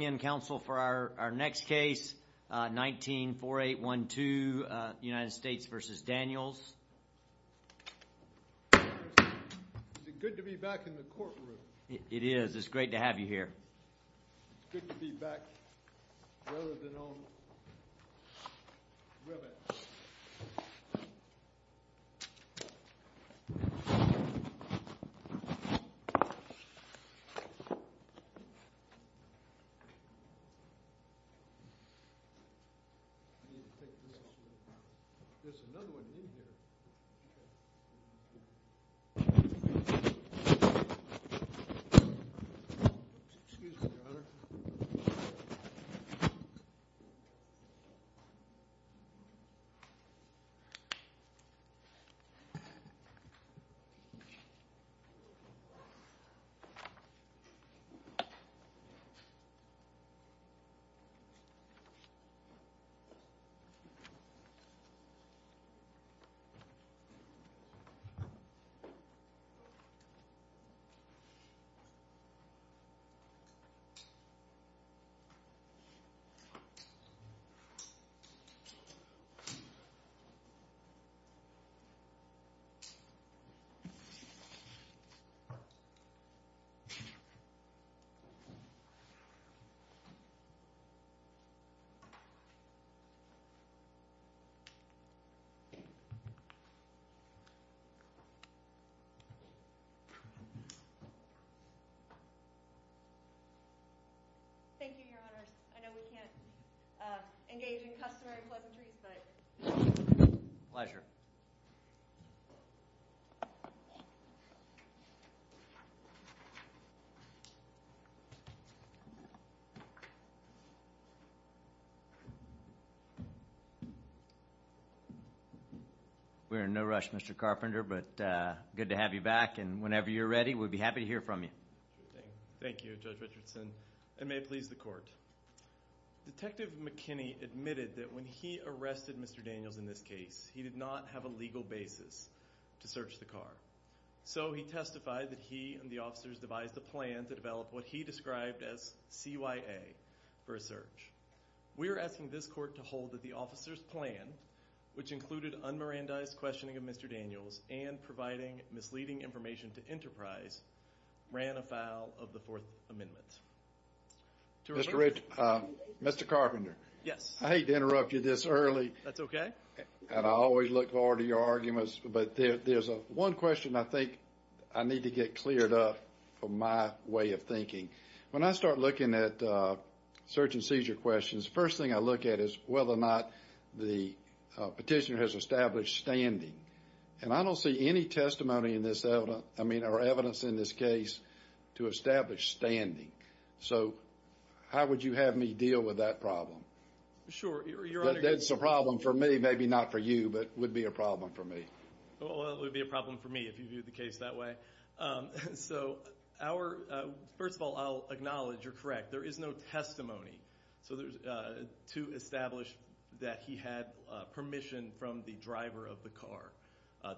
Is it good to be back in the courtroom? It is. I need to take this off. There's another one in here. Excuse me, Your Honor. I know we can't engage in customary pleasantries, but... Pleasure. We're in no rush, Mr. Carpenter, but good to have you back. Whenever you're ready, we'd be happy to hear from you. Thank you, Judge Richardson. It may please the court. Detective McKinney admitted that when he arrested Mr. Daniels in this case, he did not have a legal basis to search the car. So he testified that he and the officers devised a plan to develop what he described as CYA for a search. We are asking this court to hold that the officers' plan, which included unmerandized questioning of Mr. Daniels and providing misleading information to Enterprise, ran afoul of the Fourth Amendment. Mr. Carpenter, I hate to interrupt you this early. That's okay. I always look forward to your arguments, but there's one question I think I need to get cleared up for my way of thinking. When I start looking at search and seizure questions, the first thing I look at is whether or not the petitioner has established standing. And I don't see any testimony or evidence in this case to establish standing. So how would you have me deal with that problem? Sure. That's a problem for me, maybe not for you, but would be a problem for me. Well, it would be a problem for me if you viewed the case that way. First of all, I'll acknowledge you're correct. There is no testimony to establish that he had permission from the driver of the car,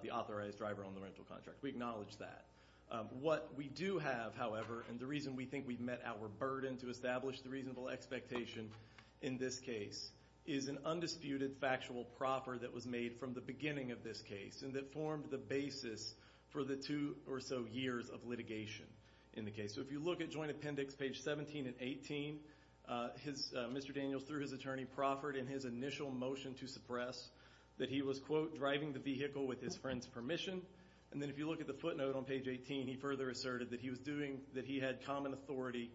the authorized driver on the rental contract. We acknowledge that. What we do have, however, and the reason we think we've met our burden to establish the reasonable expectation in this case, is an undisputed factual proffer that was made from the beginning of this case and that formed the basis for the two or so years of litigation in the case. So if you look at joint appendix page 17 and 18, Mr. Daniels, through his attorney, proffered in his initial motion to suppress that he was, quote, driving the vehicle with his friend's permission. And then if you look at the footnote on page 18, he further asserted that he was doing that he had common authority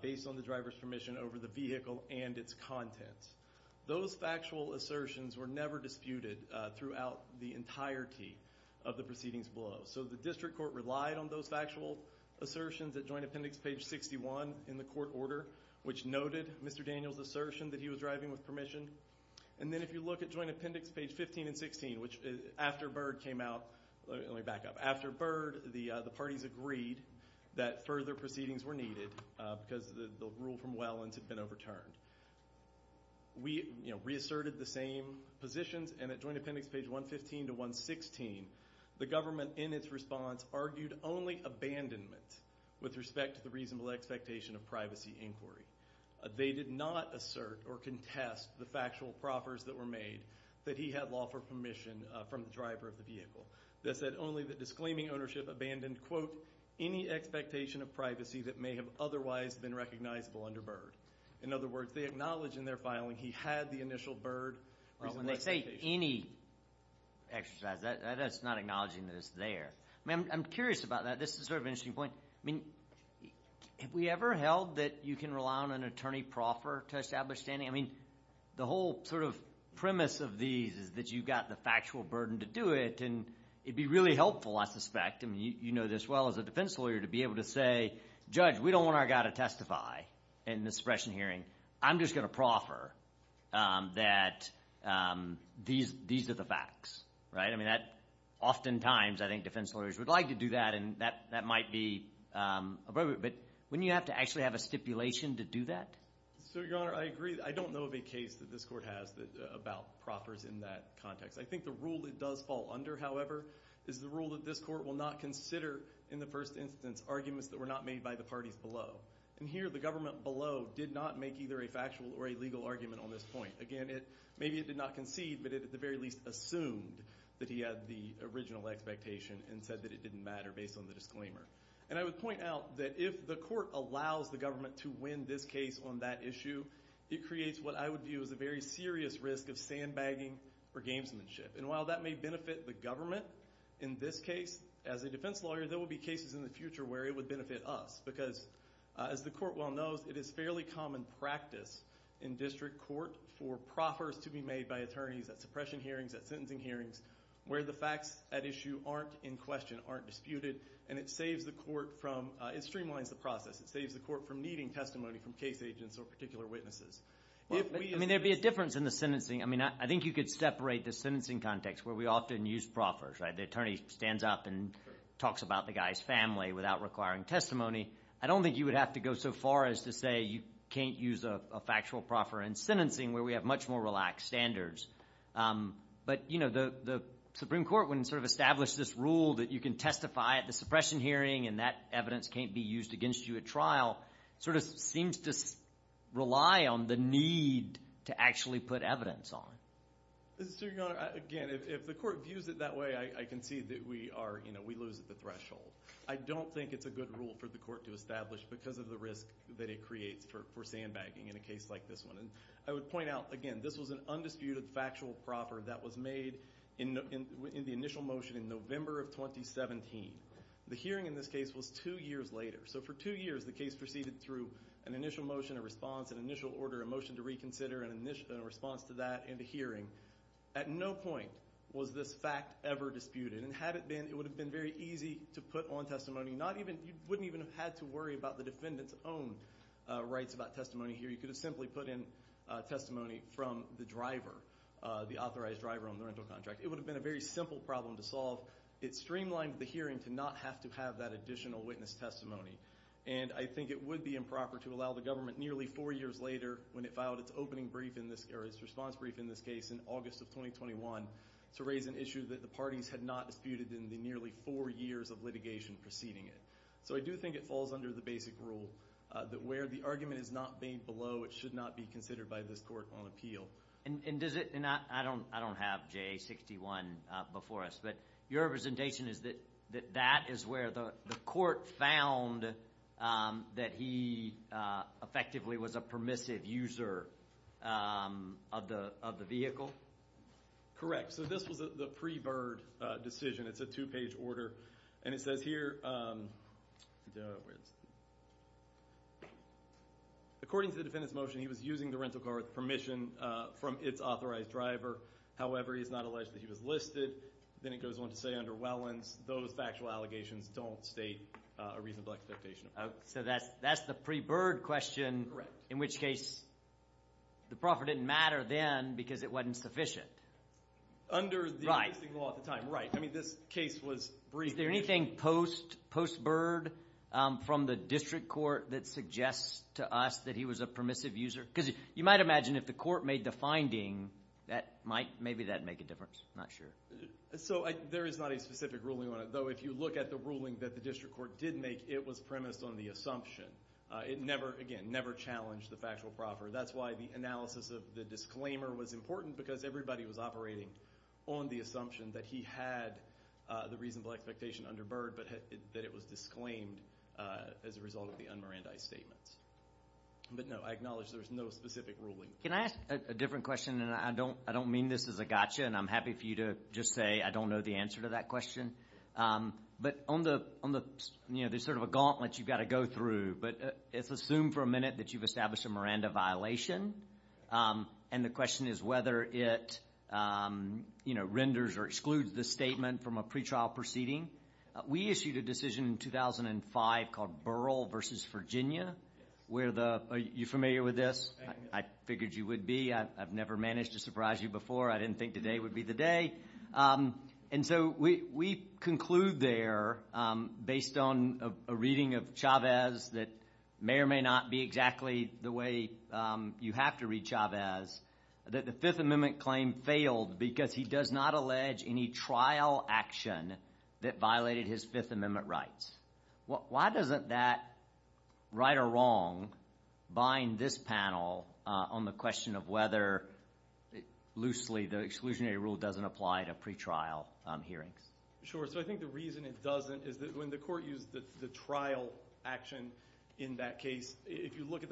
based on the driver's permission over the vehicle and its contents. Those factual assertions were never disputed throughout the entirety of the proceedings below. So the district court relied on those factual assertions at joint appendix page 61 in the court order, which noted Mr. Daniels' assertion that he was driving with permission. And then if you look at joint appendix page 15 and 16, which after Byrd came out, let me back up, after Byrd the parties agreed that further proceedings were needed because the rule from Wellands had been overturned. We reasserted the same positions, and at joint appendix page 115 to 116, the government in its response argued only abandonment with respect to the reasonable expectation of privacy inquiry. They did not assert or contest the factual proffers that were made that he had lawful permission from the driver of the vehicle. They said only that disclaiming ownership abandoned, quote, any expectation of privacy that may have otherwise been recognizable under Byrd. In other words, they acknowledge in their filing he had the initial Byrd reasonable expectation. That's not acknowledging that it's there. I'm curious about that. This is sort of an interesting point. I mean, have we ever held that you can rely on an attorney proffer to establish standing? I mean, the whole sort of premise of these is that you've got the factual burden to do it, and it would be really helpful, I suspect. I mean, you know this well as a defense lawyer to be able to say, Judge, we don't want our guy to testify in this suppression hearing. I'm just going to proffer that these are the facts. I mean, oftentimes I think defense lawyers would like to do that, and that might be appropriate. But wouldn't you have to actually have a stipulation to do that? So, Your Honor, I agree. I don't know of a case that this court has about proffers in that context. I think the rule it does fall under, however, is the rule that this court will not consider in the first instance arguments that were not made by the parties below. And here the government below did not make either a factual or a legal argument on this point. Again, maybe it did not concede, but it at the very least assumed that he had the original expectation and said that it didn't matter based on the disclaimer. And I would point out that if the court allows the government to win this case on that issue, it creates what I would view as a very serious risk of sandbagging for gamesmanship. And while that may benefit the government in this case, as a defense lawyer there will be cases in the future where it would benefit us because, as the court well knows, it is fairly common practice in district court for proffers to be made by attorneys at suppression hearings, at sentencing hearings, where the facts at issue aren't in question, aren't disputed. And it saves the court from – it streamlines the process. It saves the court from needing testimony from case agents or particular witnesses. I mean there would be a difference in the sentencing. I mean I think you could separate the sentencing context where we often use proffers. The attorney stands up and talks about the guy's family without requiring testimony. I don't think you would have to go so far as to say you can't use a factual proffer in sentencing where we have much more relaxed standards. But the Supreme Court, when it sort of established this rule that you can testify at the suppression hearing and that evidence can't be used against you at trial, sort of seems to rely on the need to actually put evidence on it. Mr. Superior Honor, again, if the court views it that way, I concede that we lose at the threshold. I don't think it's a good rule for the court to establish because of the risk that it creates for sandbagging in a case like this one. And I would point out, again, this was an undisputed factual proffer that was made in the initial motion in November of 2017. The hearing in this case was two years later. So for two years the case proceeded through an initial motion, a response, an initial order, a motion to reconsider, and a response to that in the hearing. At no point was this fact ever disputed. And had it been, it would have been very easy to put on testimony. You wouldn't even have had to worry about the defendant's own rights about testimony here. You could have simply put in testimony from the driver, the authorized driver on the rental contract. It would have been a very simple problem to solve. It streamlined the hearing to not have to have that additional witness testimony. And I think it would be improper to allow the government nearly four years later when it filed its response brief in this case in August of 2021 to raise an issue that the parties had not disputed in the nearly four years of litigation preceding it. So I do think it falls under the basic rule that where the argument is not made below, it should not be considered by this court on appeal. And I don't have JA-61 before us, but your representation is that that is where the court found that he effectively was a permissive user of the vehicle? Correct. So this was the pre-Bird decision. It's a two-page order, and it says here, according to the defendant's motion, he was using the rental car with permission from its authorized driver. However, he is not alleged that he was listed. Then it goes on to say under Wellens, those factual allegations don't state a reasonable expectation. So that's the pre-Bird question, in which case the proffer didn't matter then because it wasn't sufficient. Under the existing law at the time, right. I mean, this case was briefed. Is there anything post-Bird from the district court that suggests to us that he was a permissive user? Because you might imagine if the court made the finding, maybe that would make a difference. Not sure. So there is not a specific ruling on it. Though if you look at the ruling that the district court did make, it was premised on the assumption. It never, again, never challenged the factual proffer. That's why the analysis of the disclaimer was important because everybody was operating on the assumption that he had the reasonable expectation under Bird, but that it was disclaimed as a result of the un-Mirandi statements. But no, I acknowledge there's no specific ruling. Can I ask a different question? And I don't mean this as a gotcha, and I'm happy for you to just say I don't know the answer to that question. But on the, you know, there's sort of a gauntlet you've got to go through. But it's assumed for a minute that you've established a Miranda violation. And the question is whether it, you know, renders or excludes the statement from a pretrial proceeding. We issued a decision in 2005 called Burrell v. Virginia where the – are you familiar with this? I figured you would be. I've never managed to surprise you before. I didn't think today would be the day. And so we conclude there, based on a reading of Chavez that may or may not be exactly the way you have to read Chavez, that the Fifth Amendment claim failed because he does not allege any trial action that violated his Fifth Amendment rights. Why doesn't that right or wrong bind this panel on the question of whether loosely the exclusionary rule doesn't apply to pretrial hearings? Sure. So I think the reason it doesn't is that when the court used the trial action in that case, if you look at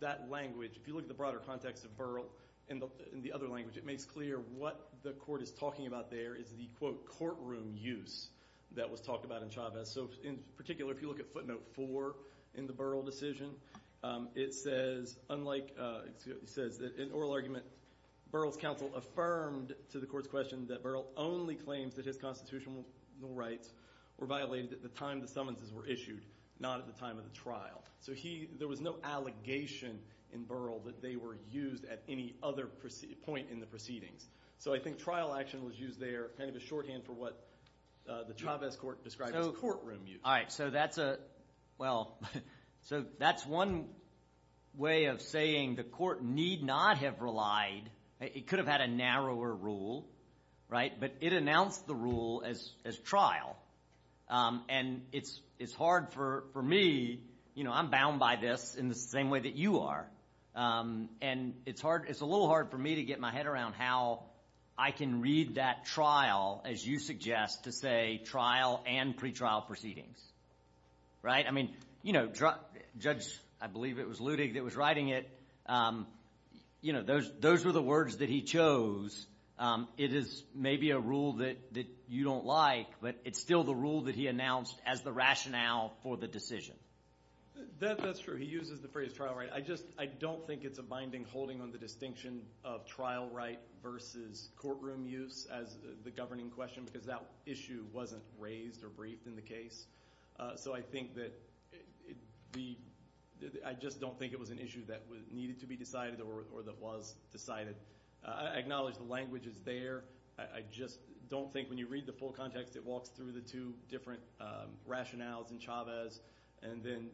that language, if you look at the broader context of Burrell in the other language, it makes clear what the court is talking about there is the, quote, courtroom use that was talked about in Chavez. So in particular, if you look at footnote four in the Burrell decision, it says, unlike – it says that in oral argument Burrell's counsel affirmed to the court's question that Burrell only claims that his constitutional rights were violated at the time the summonses were issued, not at the time of the trial. So he – there was no allegation in Burrell that they were used at any other point in the proceedings. So I think trial action was used there kind of as shorthand for what the Chavez court described as courtroom use. All right, so that's a – well, so that's one way of saying the court need not have relied. It could have had a narrower rule, right? But it announced the rule as trial. And it's hard for me – you know, I'm bound by this in the same way that you are. And it's hard – it's a little hard for me to get my head around how I can read that trial, as you suggest, to say trial and pretrial proceedings, right? I mean, you know, Judge – I believe it was Ludig that was writing it. You know, those were the words that he chose. It is maybe a rule that you don't like, but it's still the rule that he announced as the rationale for the decision. That's true. He uses the phrase trial right. I just – I don't think it's a binding holding on the distinction of trial right versus courtroom use as the governing question because that issue wasn't raised or briefed in the case. So I think that the – I just don't think it was an issue that needed to be decided or that was decided. I acknowledge the language is there. I just don't think when you read the full context, it walks through the two different rationales in Chavez and then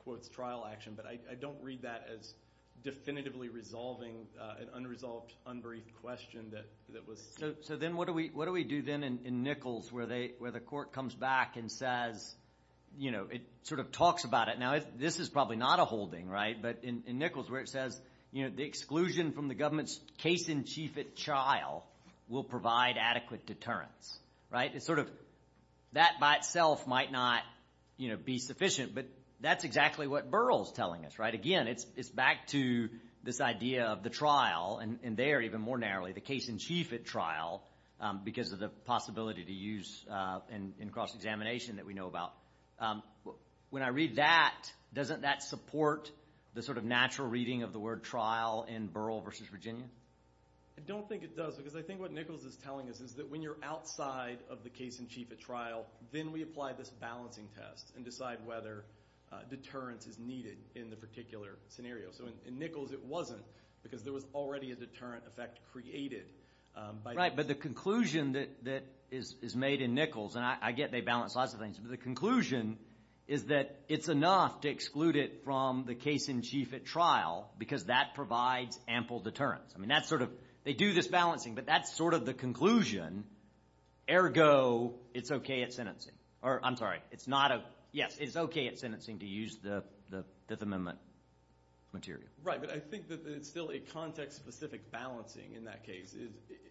quotes trial action. But I don't read that as definitively resolving an unresolved, unbriefed question that was – So then what do we do then in Nichols where the court comes back and says – it sort of talks about it. But in Nichols where it says the exclusion from the government's case in chief at trial will provide adequate deterrence, right? It's sort of that by itself might not be sufficient, but that's exactly what Burrell is telling us, right? Again, it's back to this idea of the trial and there even more narrowly the case in chief at trial because of the possibility to use in cross-examination that we know about. When I read that, doesn't that support the sort of natural reading of the word trial in Burrell v. Virginia? I don't think it does because I think what Nichols is telling us is that when you're outside of the case in chief at trial, then we apply this balancing test and decide whether deterrence is needed in the particular scenario. So in Nichols it wasn't because there was already a deterrent effect created. Right, but the conclusion that is made in Nichols – and I get they balance lots of things. But the conclusion is that it's enough to exclude it from the case in chief at trial because that provides ample deterrence. I mean that's sort of – they do this balancing, but that's sort of the conclusion. Ergo, it's okay at sentencing. Or I'm sorry, it's not a – yes, it's okay at sentencing to use the Fifth Amendment material. Right, but I think that it's still a context-specific balancing in that case. It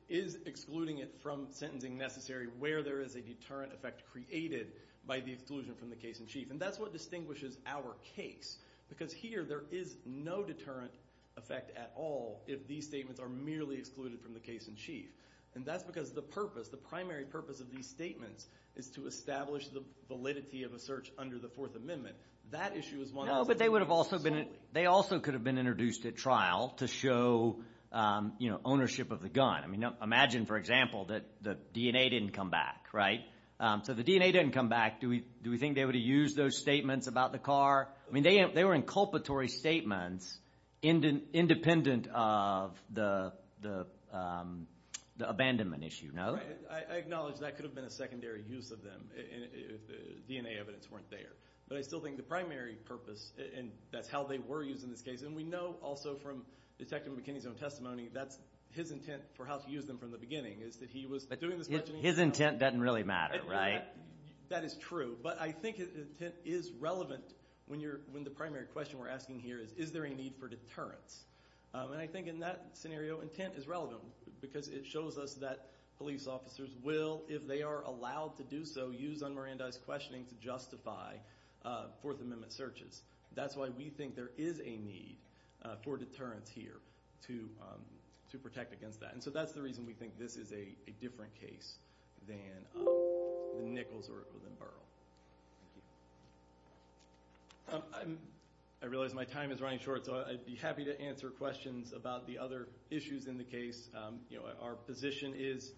is excluding it from sentencing necessary where there is a deterrent effect created by the exclusion from the case in chief. And that's what distinguishes our case because here there is no deterrent effect at all if these statements are merely excluded from the case in chief. And that's because the purpose, the primary purpose of these statements is to establish the validity of a search under the Fourth Amendment. That issue is one of them. They also could have been introduced at trial to show ownership of the gun. I mean imagine, for example, that the DNA didn't come back, right? So the DNA didn't come back. Do we think they would have used those statements about the car? I mean they were inculpatory statements independent of the abandonment issue, no? I acknowledge that could have been a secondary use of them if the DNA evidence weren't there. But I still think the primary purpose, and that's how they were used in this case. And we know also from Detective McKinney's own testimony that's his intent for how to use them from the beginning is that he was doing the questioning. His intent doesn't really matter, right? That is true, but I think his intent is relevant when the primary question we're asking here is, is there a need for deterrence? And I think in that scenario intent is relevant because it shows us that police officers will, if they are allowed to do so, will use unmerandized questioning to justify Fourth Amendment searches. That's why we think there is a need for deterrence here to protect against that. And so that's the reason we think this is a different case than the Nichols or Burrell. Thank you. I realize my time is running short, so I'd be happy to answer questions about the other issues in the case. Our position is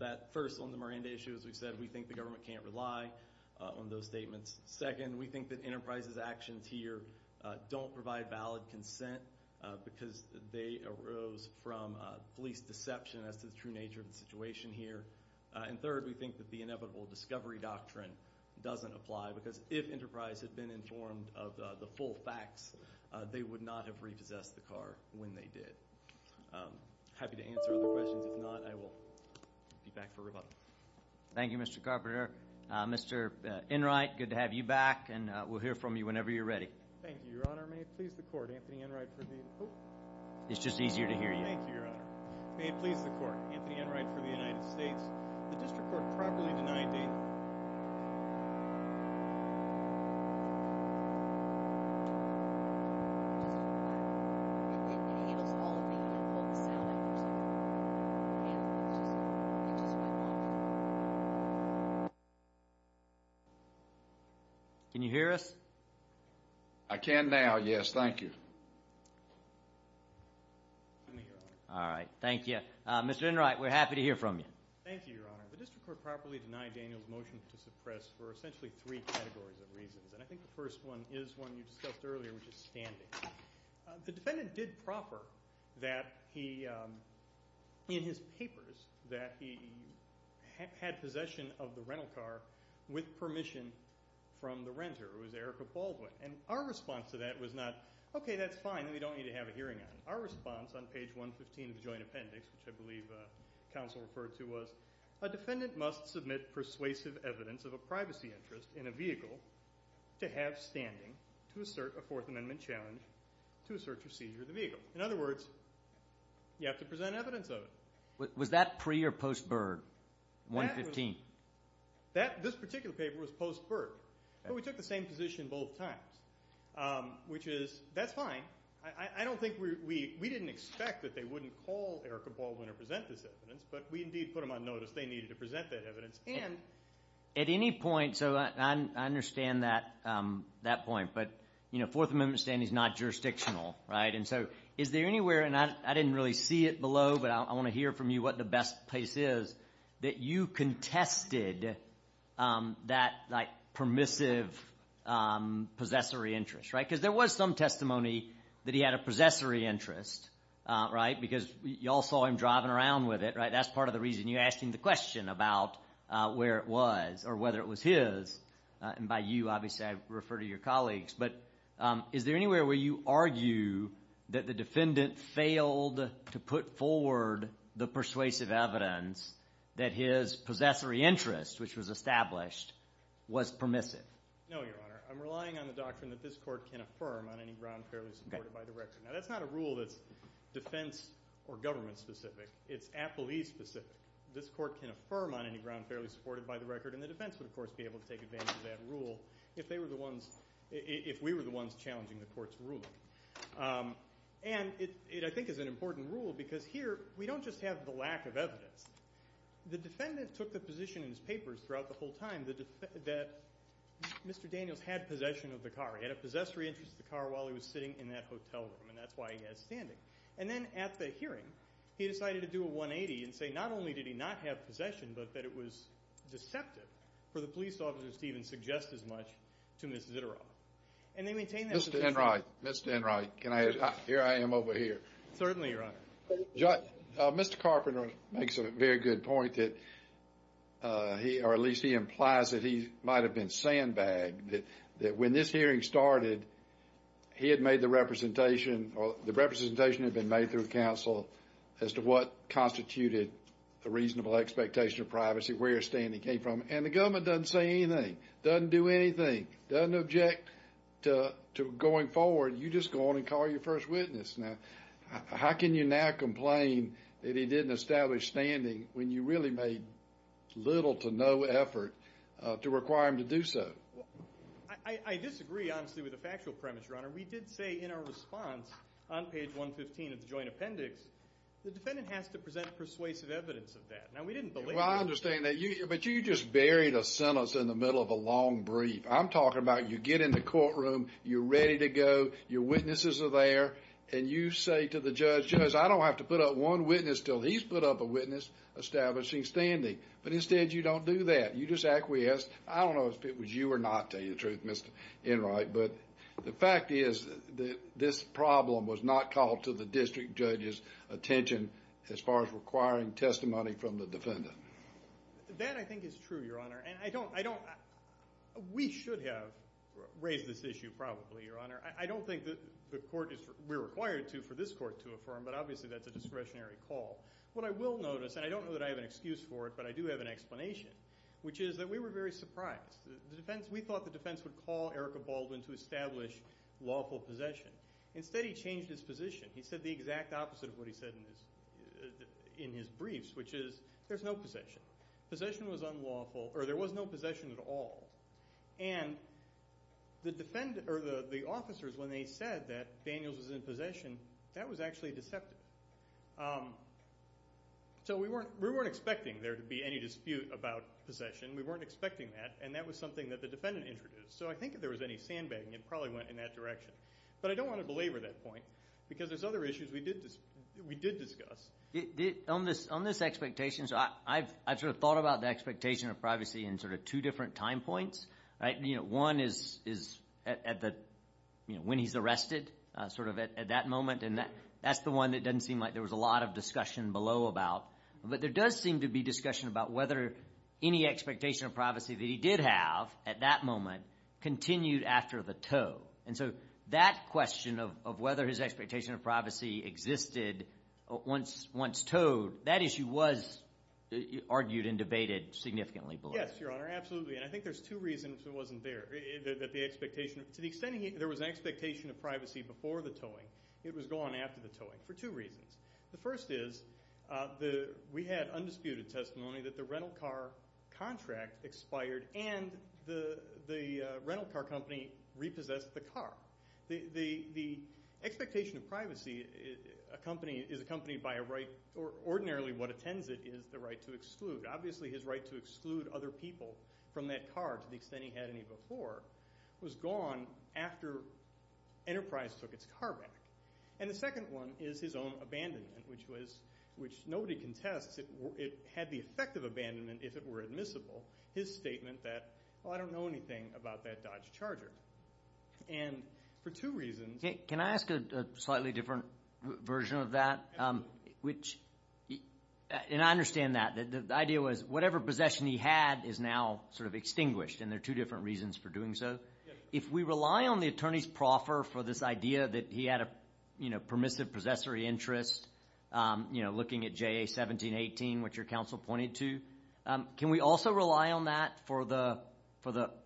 that first on the Miranda issue, as we said, we think the government can't rely on those statements. Second, we think that Enterprise's actions here don't provide valid consent because they arose from police deception as to the true nature of the situation here. And third, we think that the inevitable discovery doctrine doesn't apply because if Enterprise had been informed of the full facts, they would not have repossessed the car when they did. I'm happy to answer other questions. If not, I will be back for rebuttal. Thank you, Mr. Carpenter. Mr. Enright, good to have you back, and we'll hear from you whenever you're ready. Thank you, Your Honor. May it please the Court, Anthony Enright for the United States. It's just easier to hear you. Thank you, Your Honor. May it please the Court, Anthony Enright for the United States. The district court properly denied date. Can you hear us? I can now, yes. Thank you. All right. Thank you. Mr. Enright, we're happy to hear from you. Thank you, Your Honor. The district court properly denied Daniel's motion to suppress for essentially three categories of reasons, and I think the first one is one you discussed earlier, which is standing. The defendant did proffer that he, in his papers, that he had possession of the rental car with permission from the renter, who was Erica Baldwin, and our response to that was not, okay, that's fine, then we don't need to have a hearing on it. Our response on page 115 of the joint appendix, which I believe counsel referred to, was a defendant must submit persuasive evidence of a privacy interest in a vehicle to have standing to assert a Fourth Amendment challenge to assert procedure of the vehicle. In other words, you have to present evidence of it. Was that pre- or post-Berg, 115? This particular paper was post-Berg, but we took the same position both times, which is that's fine. I don't think we – we didn't expect that they wouldn't call Erica Baldwin or present this evidence, but we indeed put them on notice they needed to present that evidence. And at any point – so I understand that point, but Fourth Amendment standing is not jurisdictional, right? And so is there anywhere – and I didn't really see it below, but I want to hear from you what the best place is – that you contested that permissive possessory interest, right? Because there was some testimony that he had a possessory interest, right? Because you all saw him driving around with it, right? That's part of the reason you asked him the question about where it was or whether it was his. And by you, obviously I refer to your colleagues. But is there anywhere where you argue that the defendant failed to put forward the persuasive evidence that his possessory interest, which was established, was permissive? No, Your Honor. I'm relying on the doctrine that this court can affirm on any ground fairly supported by the record. Now that's not a rule that's defense or government specific. It's appellee specific. This court can affirm on any ground fairly supported by the record, and the defense would, of course, be able to take advantage of that rule if they were the ones – if we were the ones challenging the court's ruling. And it, I think, is an important rule because here we don't just have the lack of evidence. The defendant took the position in his papers throughout the whole time that Mr. Daniels had possession of the car. He had a possessory interest in the car while he was sitting in that hotel room, and that's why he had it standing. And then at the hearing, he decided to do a 180 and say not only did he not have possession but that it was deceptive for the police officer to even suggest as much to Ms. Ziteroff. Mr. Enright, Mr. Enright, here I am over here. Certainly, Your Honor. Mr. Carpenter makes a very good point that he – or at least he implies that he might have been sandbagged, that when this hearing started he had made the representation or the representation had been made through counsel as to what constituted the reasonable expectation of privacy, where your standing came from. And the government doesn't say anything, doesn't do anything, doesn't object to going forward. You just go on and call your first witness. Now, how can you now complain that he didn't establish standing when you really made little to no effort to require him to do so? I disagree, honestly, with the factual premise, Your Honor. We did say in our response on page 115 of the joint appendix the defendant has to present persuasive evidence of that. Now, we didn't believe that. Well, I understand that. But you just buried a sentence in the middle of a long brief. I'm talking about you get in the courtroom, you're ready to go, your witnesses are there, and you say to the judge, Judge, I don't have to put up one witness until he's put up a witness establishing standing. But instead you don't do that. You just acquiesce. I don't know if it was you or not, to tell you the truth, Mr. Enright, but the fact is that this problem was not called to the district judge's attention as far as requiring testimony from the defendant. That I think is true, Your Honor. And I don't – we should have raised this issue probably, Your Honor. I don't think we're required to for this court to affirm, but obviously that's a discretionary call. What I will notice, and I don't know that I have an excuse for it, but I do have an explanation, which is that we were very surprised. We thought the defense would call Erica Baldwin to establish lawful possession. Instead he changed his position. He said the exact opposite of what he said in his briefs, which is there's no possession. Possession was unlawful, or there was no possession at all. And the officers, when they said that Daniels was in possession, that was actually deceptive. So we weren't expecting there to be any dispute about possession. We weren't expecting that, and that was something that the defendant introduced. So I think if there was any sandbagging, it probably went in that direction. But I don't want to belabor that point because there's other issues we did discuss. On this expectation, I've sort of thought about the expectation of privacy in sort of two different time points. One is when he's arrested, sort of at that moment, and that's the one that doesn't seem like there was a lot of discussion below about. But there does seem to be discussion about whether any expectation of privacy that he did have at that moment continued after the tow. And so that question of whether his expectation of privacy existed once towed, that issue was argued and debated significantly below. Yes, Your Honor, absolutely. And I think there's two reasons it wasn't there. To the extent there was an expectation of privacy before the towing, it was gone after the towing for two reasons. The first is we had undisputed testimony that the rental car contract expired and the rental car company repossessed the car. The expectation of privacy is accompanied by a right or ordinarily what attends it is the right to exclude. Obviously, his right to exclude other people from that car to the extent he had any before was gone after Enterprise took its car back. And the second one is his own abandonment, which nobody contests. It had the effect of abandonment if it were admissible. His statement that, well, I don't know anything about that Dodge Charger. And for two reasons. Can I ask a slightly different version of that? And I understand that. The idea was whatever possession he had is now sort of extinguished, and there are two different reasons for doing so. If we rely on the attorney's proffer for this idea that he had a permissive possessory interest, looking at J.A. 1718, which your counsel pointed to, can we also rely on that for the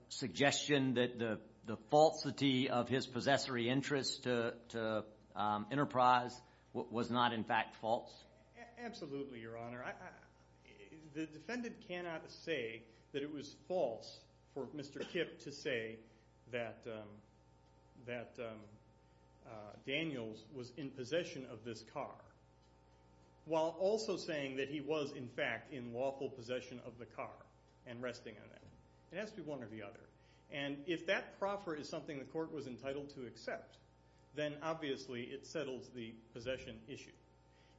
suggestion that the falsity of his possessory interest to Enterprise was not in fact false? Absolutely, Your Honor. The defendant cannot say that it was false for Mr. Kipp to say that Daniels was in possession of this car, while also saying that he was in fact in lawful possession of the car and resting in it. It has to be one or the other. And if that proffer is something the court was entitled to accept, then obviously it settles the possession issue.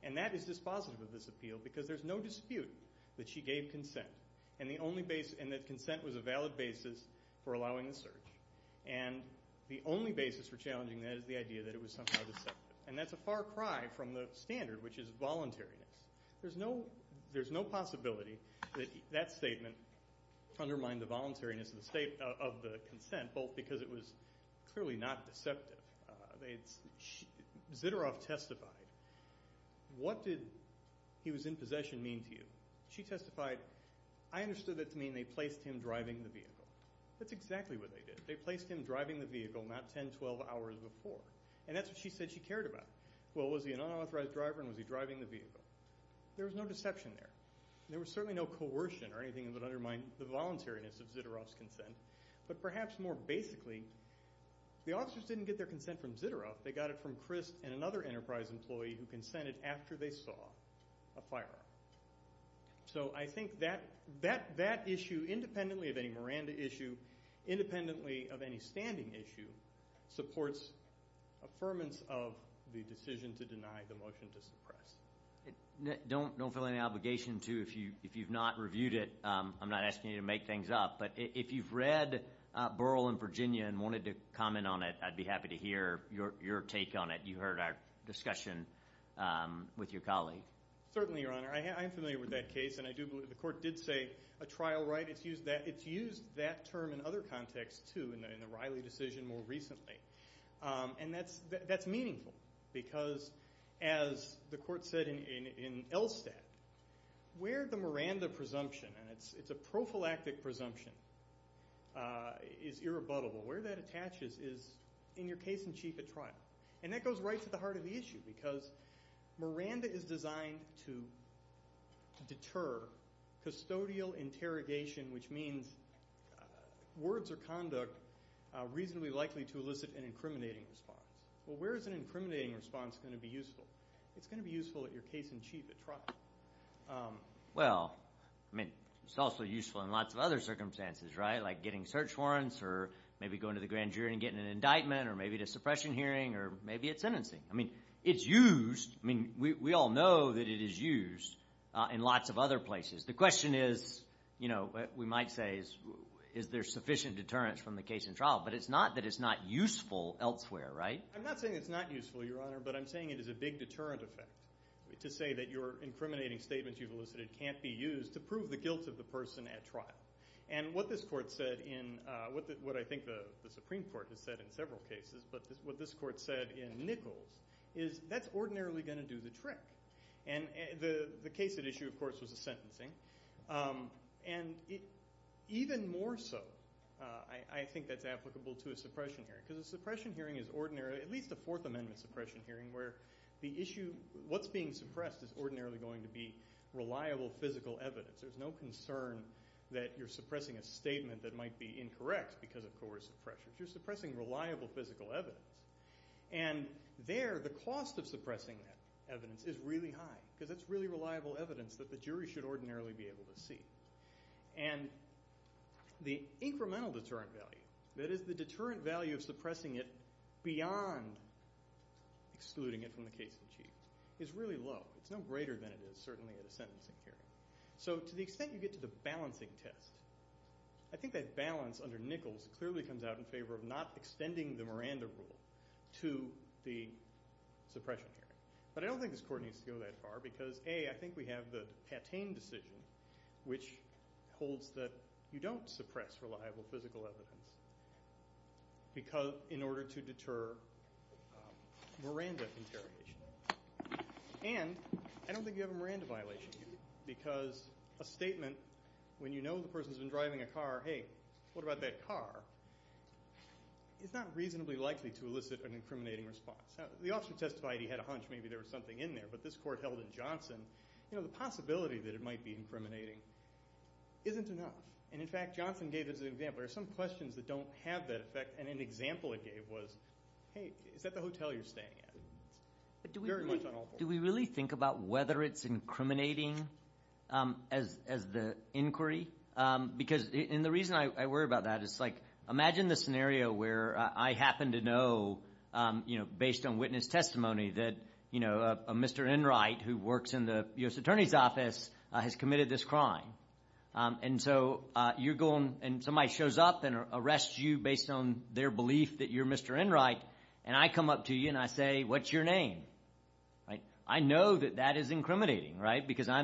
And that is dispositive of this appeal because there's no dispute that she gave consent, and that consent was a valid basis for allowing the search. And the only basis for challenging that is the idea that it was somehow deceptive. And that's a far cry from the standard, which is voluntariness. There's no possibility that that statement undermined the voluntariness of the consent, both because it was clearly not deceptive. Ziteroff testified. What did he was in possession mean to you? She testified, I understood that to mean they placed him driving the vehicle. That's exactly what they did. They placed him driving the vehicle not 10, 12 hours before. And that's what she said she cared about. Well, was he an unauthorized driver and was he driving the vehicle? There was no deception there. There was certainly no coercion or anything that undermined the voluntariness of Ziteroff's consent. But perhaps more basically, the officers didn't get their consent from Ziteroff. They got it from Chris and another Enterprise employee who consented after they saw a firearm. So I think that issue, independently of any Miranda issue, independently of any standing issue, supports affirmance of the decision to deny the motion to suppress. Don't feel any obligation to if you've not reviewed it. I'm not asking you to make things up. But if you've read Burl in Virginia and wanted to comment on it, I'd be happy to hear your take on it. You heard our discussion with your colleague. Certainly, Your Honor. I am familiar with that case, and I do believe the court did say a trial right. It's used that term in other contexts, too, in the Riley decision more recently. And that's meaningful because, as the court said in ELSTAT, where the Miranda presumption, and it's a prophylactic presumption, is irrebuttable, where that attaches is in your case-in-chief at trial. And that goes right to the heart of the issue because Miranda is designed to deter custodial interrogation, which means words or conduct reasonably likely to elicit an incriminating response. Well, where is an incriminating response going to be useful? It's going to be useful at your case-in-chief at trial. Well, I mean, it's also useful in lots of other circumstances, right? Like getting search warrants or maybe going to the grand jury and getting an indictment or maybe at a suppression hearing or maybe at sentencing. I mean, it's used. I mean, we all know that it is used in lots of other places. The question is, you know, we might say, is there sufficient deterrence from the case-in-trial? But it's not that it's not useful elsewhere, right? I'm not saying it's not useful, Your Honor, but I'm saying it is a big deterrent effect to say that your incriminating statements you've elicited can't be used to prove the guilt of the person at trial. And what this court said in what I think the Supreme Court has said in several cases, but what this court said in Nichols is that's ordinarily going to do the trick. And the case at issue, of course, was a sentencing. And even more so, I think that's applicable to a suppression hearing because a suppression hearing is ordinarily, at least a Fourth Amendment suppression hearing, where the issue, what's being suppressed is ordinarily going to be reliable physical evidence. There's no concern that you're suppressing a statement that might be incorrect because of coercive pressure. You're suppressing reliable physical evidence. And there the cost of suppressing that evidence is really high because it's really reliable evidence that the jury should ordinarily be able to see. And the incremental deterrent value, that is the deterrent value of suppressing it beyond excluding it from the case in chief, is really low. It's no greater than it is certainly at a sentencing hearing. So to the extent you get to the balancing test, I think that balance under Nichols clearly comes out in favor of not extending the Miranda Rule to the suppression hearing. But I don't think this court needs to go that far because, A, I think we have the Patain decision which holds that you don't suppress reliable physical evidence in order to deter Miranda interrogation. And I don't think you have a Miranda violation here because a statement when you know the person's been driving a car, hey, what about that car, is not reasonably likely to elicit an incriminating response. The officer testified he had a hunch maybe there was something in there, but this court held in Johnson, the possibility that it might be incriminating isn't enough. And, in fact, Johnson gave us an example. There are some questions that don't have that effect, and an example it gave was, hey, is that the hotel you're staying at? Very much on all fours. Do we really think about whether it's incriminating as the inquiry? Because the reason I worry about that is, like, imagine the scenario where I happen to know, based on witness testimony, that a Mr. Enright who works in the U.S. Attorney's Office has committed this crime. And so you're going and somebody shows up and arrests you based on their belief that you're Mr. Enright, and I come up to you and I say, what's your name? I know that that is incriminating because I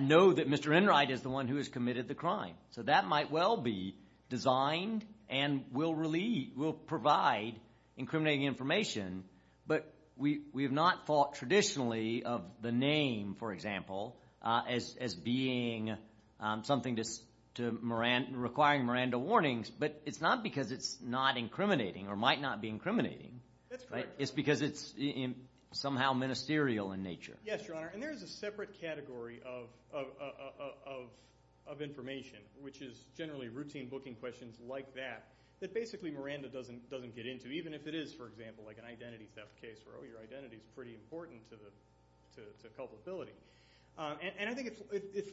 know that Mr. Enright is the one who has committed the crime. So that might well be designed and will provide incriminating information, but we have not thought traditionally of the name, for example, as being something requiring Miranda warnings. But it's not because it's not incriminating or might not be incriminating. That's correct. It's because it's somehow ministerial in nature. Yes, Your Honor, and there is a separate category of information, which is generally routine booking questions like that, that basically Miranda doesn't get into, even if it is, for example, like an identity theft case where, oh, your identity is pretty important to culpability. And I think it's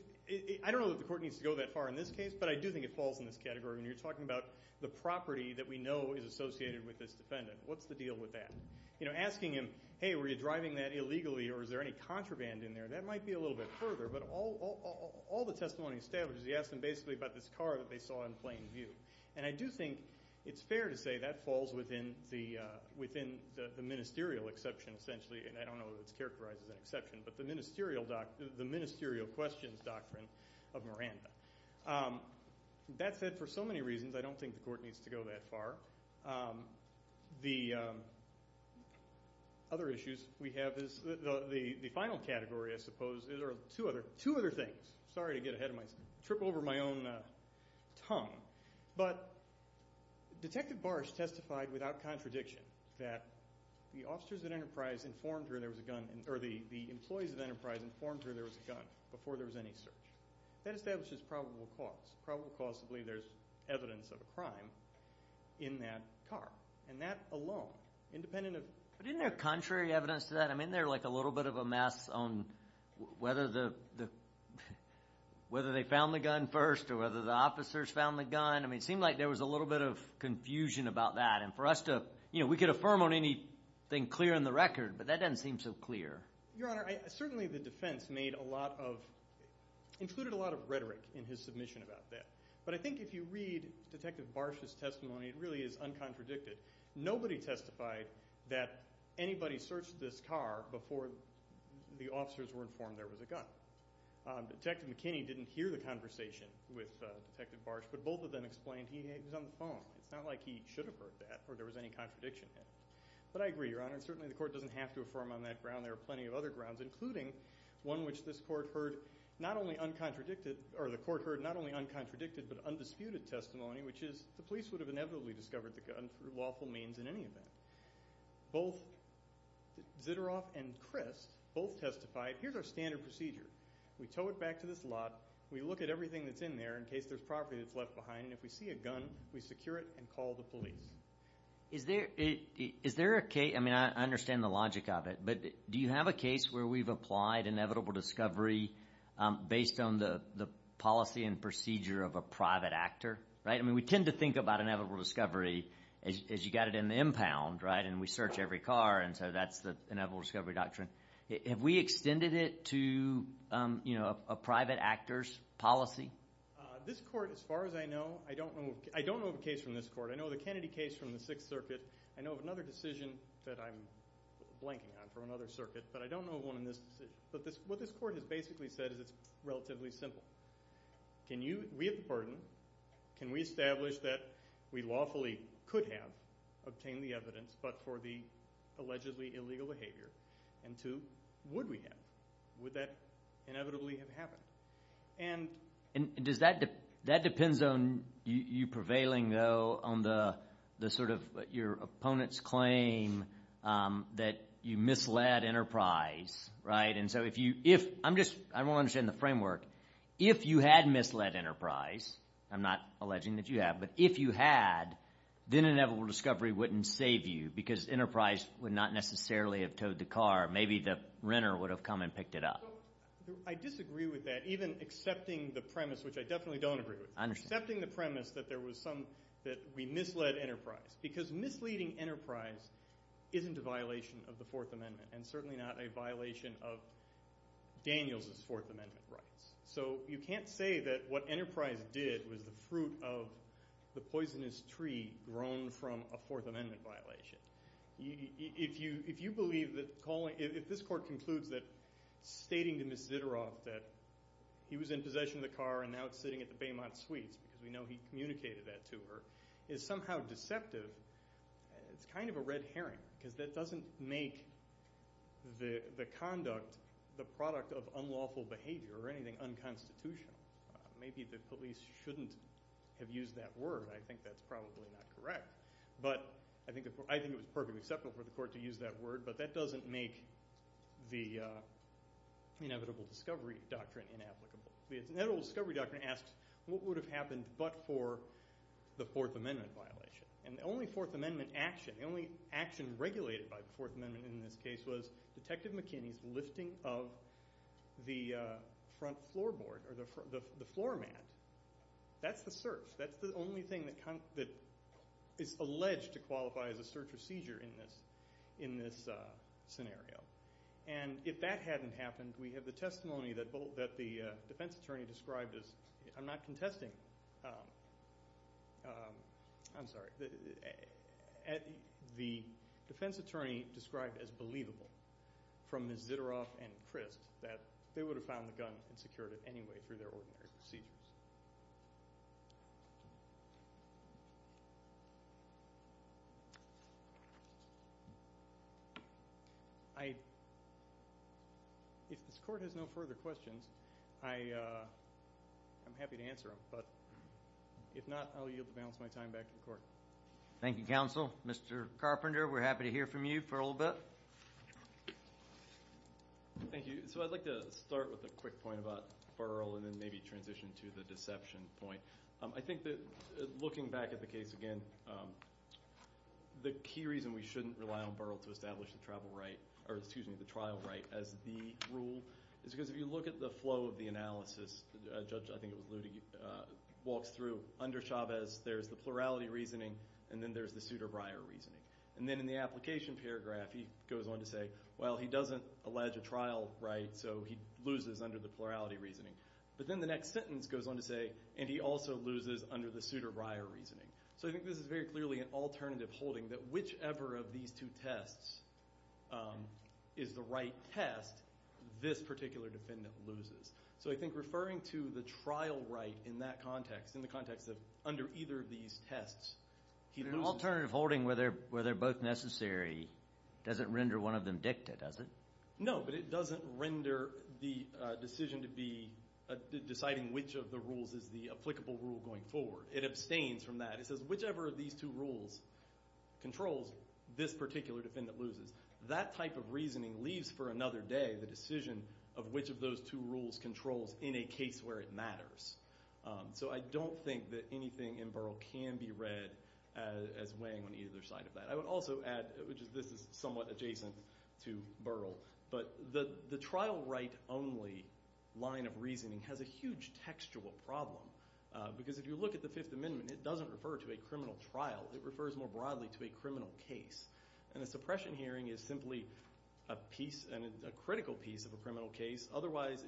– I don't know that the court needs to go that far in this case, but I do think it falls in this category when you're talking about the property that we know is associated with this defendant. What's the deal with that? Asking him, hey, were you driving that illegally or is there any contraband in there, that might be a little bit further, but all the testimony established is he asked them basically about this car that they saw in plain view. And I do think it's fair to say that falls within the ministerial exception essentially, and I don't know if it's characterized as an exception, but the ministerial questions doctrine of Miranda. That said, for so many reasons, I don't think the court needs to go that far. The other issues we have is the final category, I suppose. There are two other things. Sorry to get ahead of myself, trip over my own tongue, but Detective Barsh testified without contradiction that the officers at Enterprise informed her there was a gun or the employees at Enterprise informed her there was a gun before there was any search. That establishes probable cause. Probably causably there's evidence of a crime in that car, and that alone, independent of – But isn't there contrary evidence to that? I mean they're like a little bit of a mess on whether they found the gun first or whether the officers found the gun. I mean it seemed like there was a little bit of confusion about that, and for us to – we could affirm on anything clear in the record, but that doesn't seem so clear. Your Honor, certainly the defense made a lot of – included a lot of rhetoric in his submission about that, but I think if you read Detective Barsh's testimony, it really is uncontradicted. Nobody testified that anybody searched this car before the officers were informed there was a gun. Detective McKinney didn't hear the conversation with Detective Barsh, but both of them explained he was on the phone. It's not like he should have heard that or there was any contradiction there, but I agree, Your Honor. Certainly the court doesn't have to affirm on that ground. There are plenty of other grounds, including one which this court heard not only uncontradicted – or the court heard not only uncontradicted but undisputed testimony, which is the police would have inevitably discovered the gun through lawful means in any event. Both Ziteroff and Crist both testified, here's our standard procedure. We tow it back to this lot. We look at everything that's in there in case there's property that's left behind, and if we see a gun, we secure it and call the police. Is there a case – I mean, I understand the logic of it, but do you have a case where we've applied inevitable discovery based on the policy and procedure of a private actor? I mean, we tend to think about inevitable discovery as you've got it in the impound, and we search every car, and so that's the inevitable discovery doctrine. Have we extended it to a private actor's policy? This court, as far as I know – I don't know of a case from this court. I know of the Kennedy case from the Sixth Circuit. I know of another decision that I'm blanking on from another circuit, but I don't know of one in this decision. But what this court has basically said is it's relatively simple. Can you – we have the burden. Can we establish that we lawfully could have obtained the evidence but for the allegedly illegal behavior? And two, would we have? Would that inevitably have happened? And does that – that depends on you prevailing, though, on the sort of your opponent's claim that you misled Enterprise, right? And so if you – I'm just – I don't understand the framework. If you had misled Enterprise, I'm not alleging that you have, but if you had, then inevitable discovery wouldn't save you because Enterprise would not necessarily have towed the car. Maybe the renter would have come and picked it up. I disagree with that, even accepting the premise, which I definitely don't agree with. I understand. Accepting the premise that there was some – that we misled Enterprise because misleading Enterprise isn't a violation of the Fourth Amendment and certainly not a violation of Daniels' Fourth Amendment rights. So you can't say that what Enterprise did was the fruit of the poisonous tree grown from a Fourth Amendment violation. If you believe that calling – if this court concludes that stating to Ms. Zitteroth that he was in possession of the car and now it's sitting at the Baymont Suites because we know he communicated that to her is somehow deceptive, it's kind of a red herring because that doesn't make the conduct the product of unlawful behavior or anything unconstitutional. Maybe the police shouldn't have used that word. I think that's probably not correct. But I think it was perfectly acceptable for the court to use that word, but that doesn't make the inevitable discovery doctrine inapplicable. The inevitable discovery doctrine asks what would have happened but for the Fourth Amendment violation. And the only Fourth Amendment action, the only action regulated by the Fourth Amendment in this case, was Detective McKinney's lifting of the front floorboard or the floor mat. That's the search. That's the only thing that is alleged to qualify as a search or seizure in this scenario. And if that hadn't happened, we have the testimony that the defense attorney described as – I'm not contesting. I'm sorry. The defense attorney described as believable from Ms. Zitteroth and Crist that they would have found the gun and secured it anyway through their ordinary procedures. If this court has no further questions, I'm happy to answer them. But if not, I'll yield the balance of my time back to the court. Thank you, counsel. Mr. Carpenter, we're happy to hear from you for a little bit. Thank you. So I'd like to start with a quick point about Burrell and then maybe transition to the deception point. I think that looking back at the case again, the key reason we shouldn't rely on Burrell to establish the travel right – or excuse me, the trial right as the rule is because if you look at the flow of the analysis, Judge – I think it was Ludwig – walks through under Chavez, there's the plurality reasoning, and then there's the pseudobriar reasoning. And then in the application paragraph, he goes on to say, well, he doesn't allege a trial right, so he loses under the plurality reasoning. But then the next sentence goes on to say, and he also loses under the pseudobriar reasoning. So I think this is very clearly an alternative holding that whichever of these two tests is the right test, this particular defendant loses. So I think referring to the trial right in that context, in the context of under either of these tests, he loses. The alternative holding where they're both necessary doesn't render one of them dicta, does it? No, but it doesn't render the decision to be deciding which of the rules is the applicable rule going forward. It abstains from that. It says whichever of these two rules controls, this particular defendant loses. That type of reasoning leaves for another day the decision of which of those two rules controls in a case where it matters. So I don't think that anything in Burrell can be read as weighing on either side of that. I would also add, which is this is somewhat adjacent to Burrell, but the trial right only line of reasoning has a huge textual problem. Because if you look at the Fifth Amendment, it doesn't refer to a criminal trial. It refers more broadly to a criminal case. And a suppression hearing is simply a piece and a critical piece of a criminal case. Otherwise,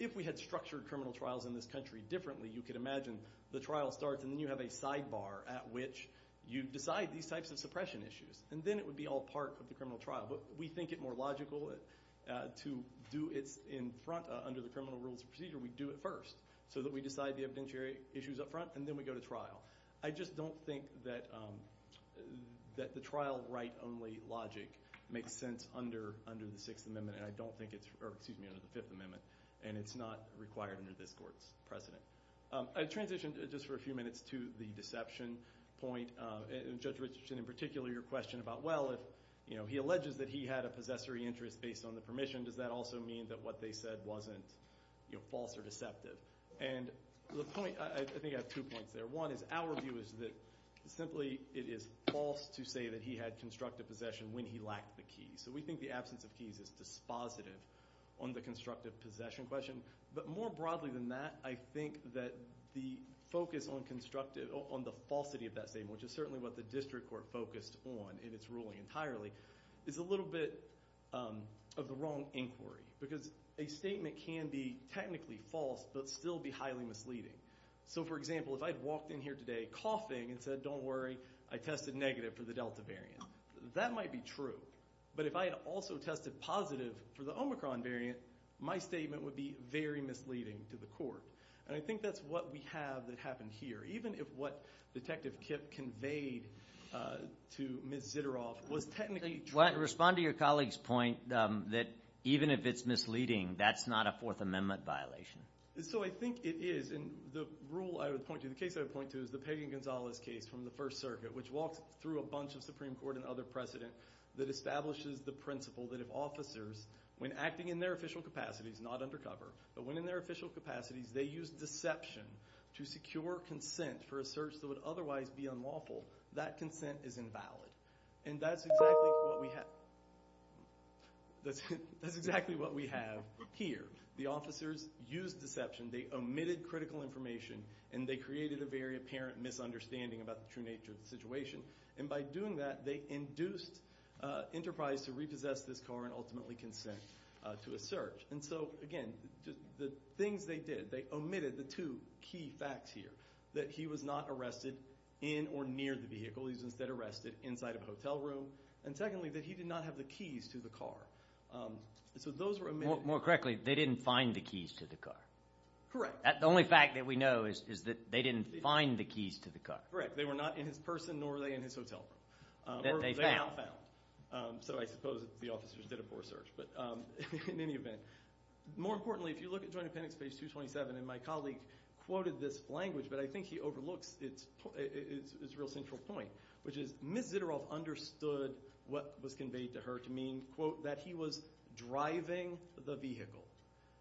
if we had structured criminal trials in this country differently, you could imagine the trial starts and then you have a sidebar at which you decide these types of suppression issues. And then it would be all part of the criminal trial. But we think it more logical to do it in front under the criminal rules of procedure. We do it first so that we decide the evidentiary issues up front, and then we go to trial. I just don't think that the trial right only logic makes sense under the Sixth Amendment. And I don't think it's – or excuse me, under the Fifth Amendment. And it's not required under this court's precedent. I transition just for a few minutes to the deception point. Judge Richardson, in particular, your question about, well, if he alleges that he had a possessory interest based on the permission, does that also mean that what they said wasn't false or deceptive? And the point – I think I have two points there. One is our view is that simply it is false to say that he had constructive possession when he lacked the keys. So we think the absence of keys is dispositive on the constructive possession question. But more broadly than that, I think that the focus on constructive – on the falsity of that statement, which is certainly what the district court focused on in its ruling entirely, is a little bit of the wrong inquiry. Because a statement can be technically false but still be highly misleading. So, for example, if I had walked in here today coughing and said, don't worry, I tested negative for the Delta variant, that might be true. But if I had also tested positive for the Omicron variant, my statement would be very misleading to the court. And I think that's what we have that happened here. Even if what Detective Kipp conveyed to Ms. Zitterauf was technically true. Respond to your colleague's point that even if it's misleading, that's not a Fourth Amendment violation. So I think it is. And the rule I would point to – the case I would point to is the Pagan-Gonzalez case from the First Circuit, which walks through a bunch of Supreme Court and other precedent that establishes the principle that if officers, when acting in their official capacities, not undercover, but when in their official capacities they use deception to secure consent for a search that would otherwise be unlawful, that consent is invalid. And that's exactly what we – that's exactly what we have here. The officers used deception. They omitted critical information, and they created a very apparent misunderstanding about the true nature of the situation. And by doing that, they induced Enterprise to repossess this car and ultimately consent to a search. And so, again, the things they did, they omitted the two key facts here, that he was not arrested in or near the vehicle. He was instead arrested inside of a hotel room. And secondly, that he did not have the keys to the car. So those were omitted. More correctly, they didn't find the keys to the car. Correct. The only fact that we know is that they didn't find the keys to the car. Correct. They were not in his person, nor were they in his hotel room. They found. Or they now found. So I suppose the officers did a poor search. But in any event, more importantly, if you look at Joint Appendix Page 227, and my colleague quoted this language, but I think he overlooks its real central point, which is Ms. Ziteroff understood what was conveyed to her to mean, quote, that he was driving the vehicle.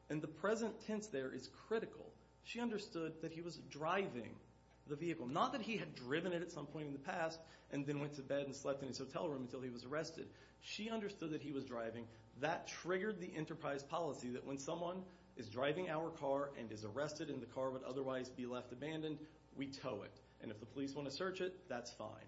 And the present tense there is critical. She understood that he was driving the vehicle. Not that he had driven it at some point in the past and then went to bed and slept in his hotel room until he was arrested. She understood that he was driving. That triggered the enterprise policy that when someone is driving our car and is arrested and the car would otherwise be left abandoned, we tow it. And if the police want to search it, that's fine.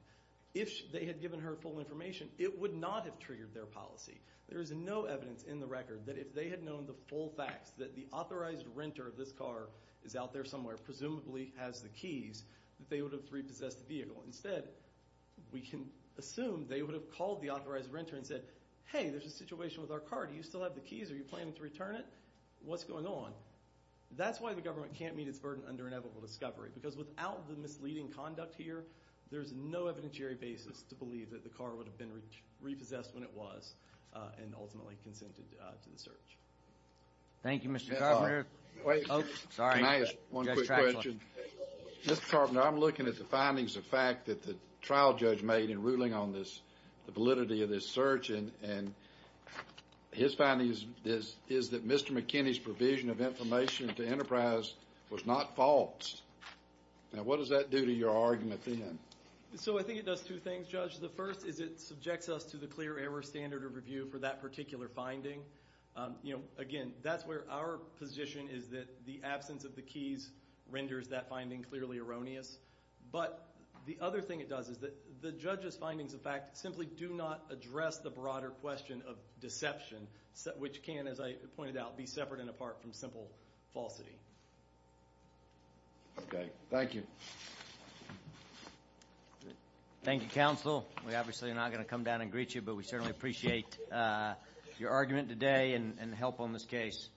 If they had given her full information, it would not have triggered their policy. There is no evidence in the record that if they had known the full facts, that the authorized renter of this car is out there somewhere, presumably has the keys, that they would have repossessed the vehicle. Instead, we can assume they would have called the authorized renter and said, hey, there's a situation with our car. Do you still have the keys? Are you planning to return it? What's going on? That's why the government can't meet its burden under inevitable discovery, because without the misleading conduct here, there's no evidentiary basis to believe that the car would have been repossessed when it was and ultimately consented to the search. Thank you, Mr. Carpenter. Can I ask one quick question? Mr. Carpenter, I'm looking at the findings of fact that the trial judge made in ruling on this, the validity of this search, and his findings is that Mr. McKinney's provision of information to Enterprise was not false. Now, what does that do to your argument then? So I think it does two things, Judge. The first is it subjects us to the clear error standard of review for that particular finding. You know, again, that's where our position is that the absence of the keys renders that finding clearly erroneous. But the other thing it does is that the judge's findings of fact simply do not address the broader question of deception, which can, as I pointed out, be separate and apart from simple falsity. Okay. Thank you. Thank you, Counsel. We obviously are not going to come down and greet you, but we certainly appreciate your argument today and help on this case.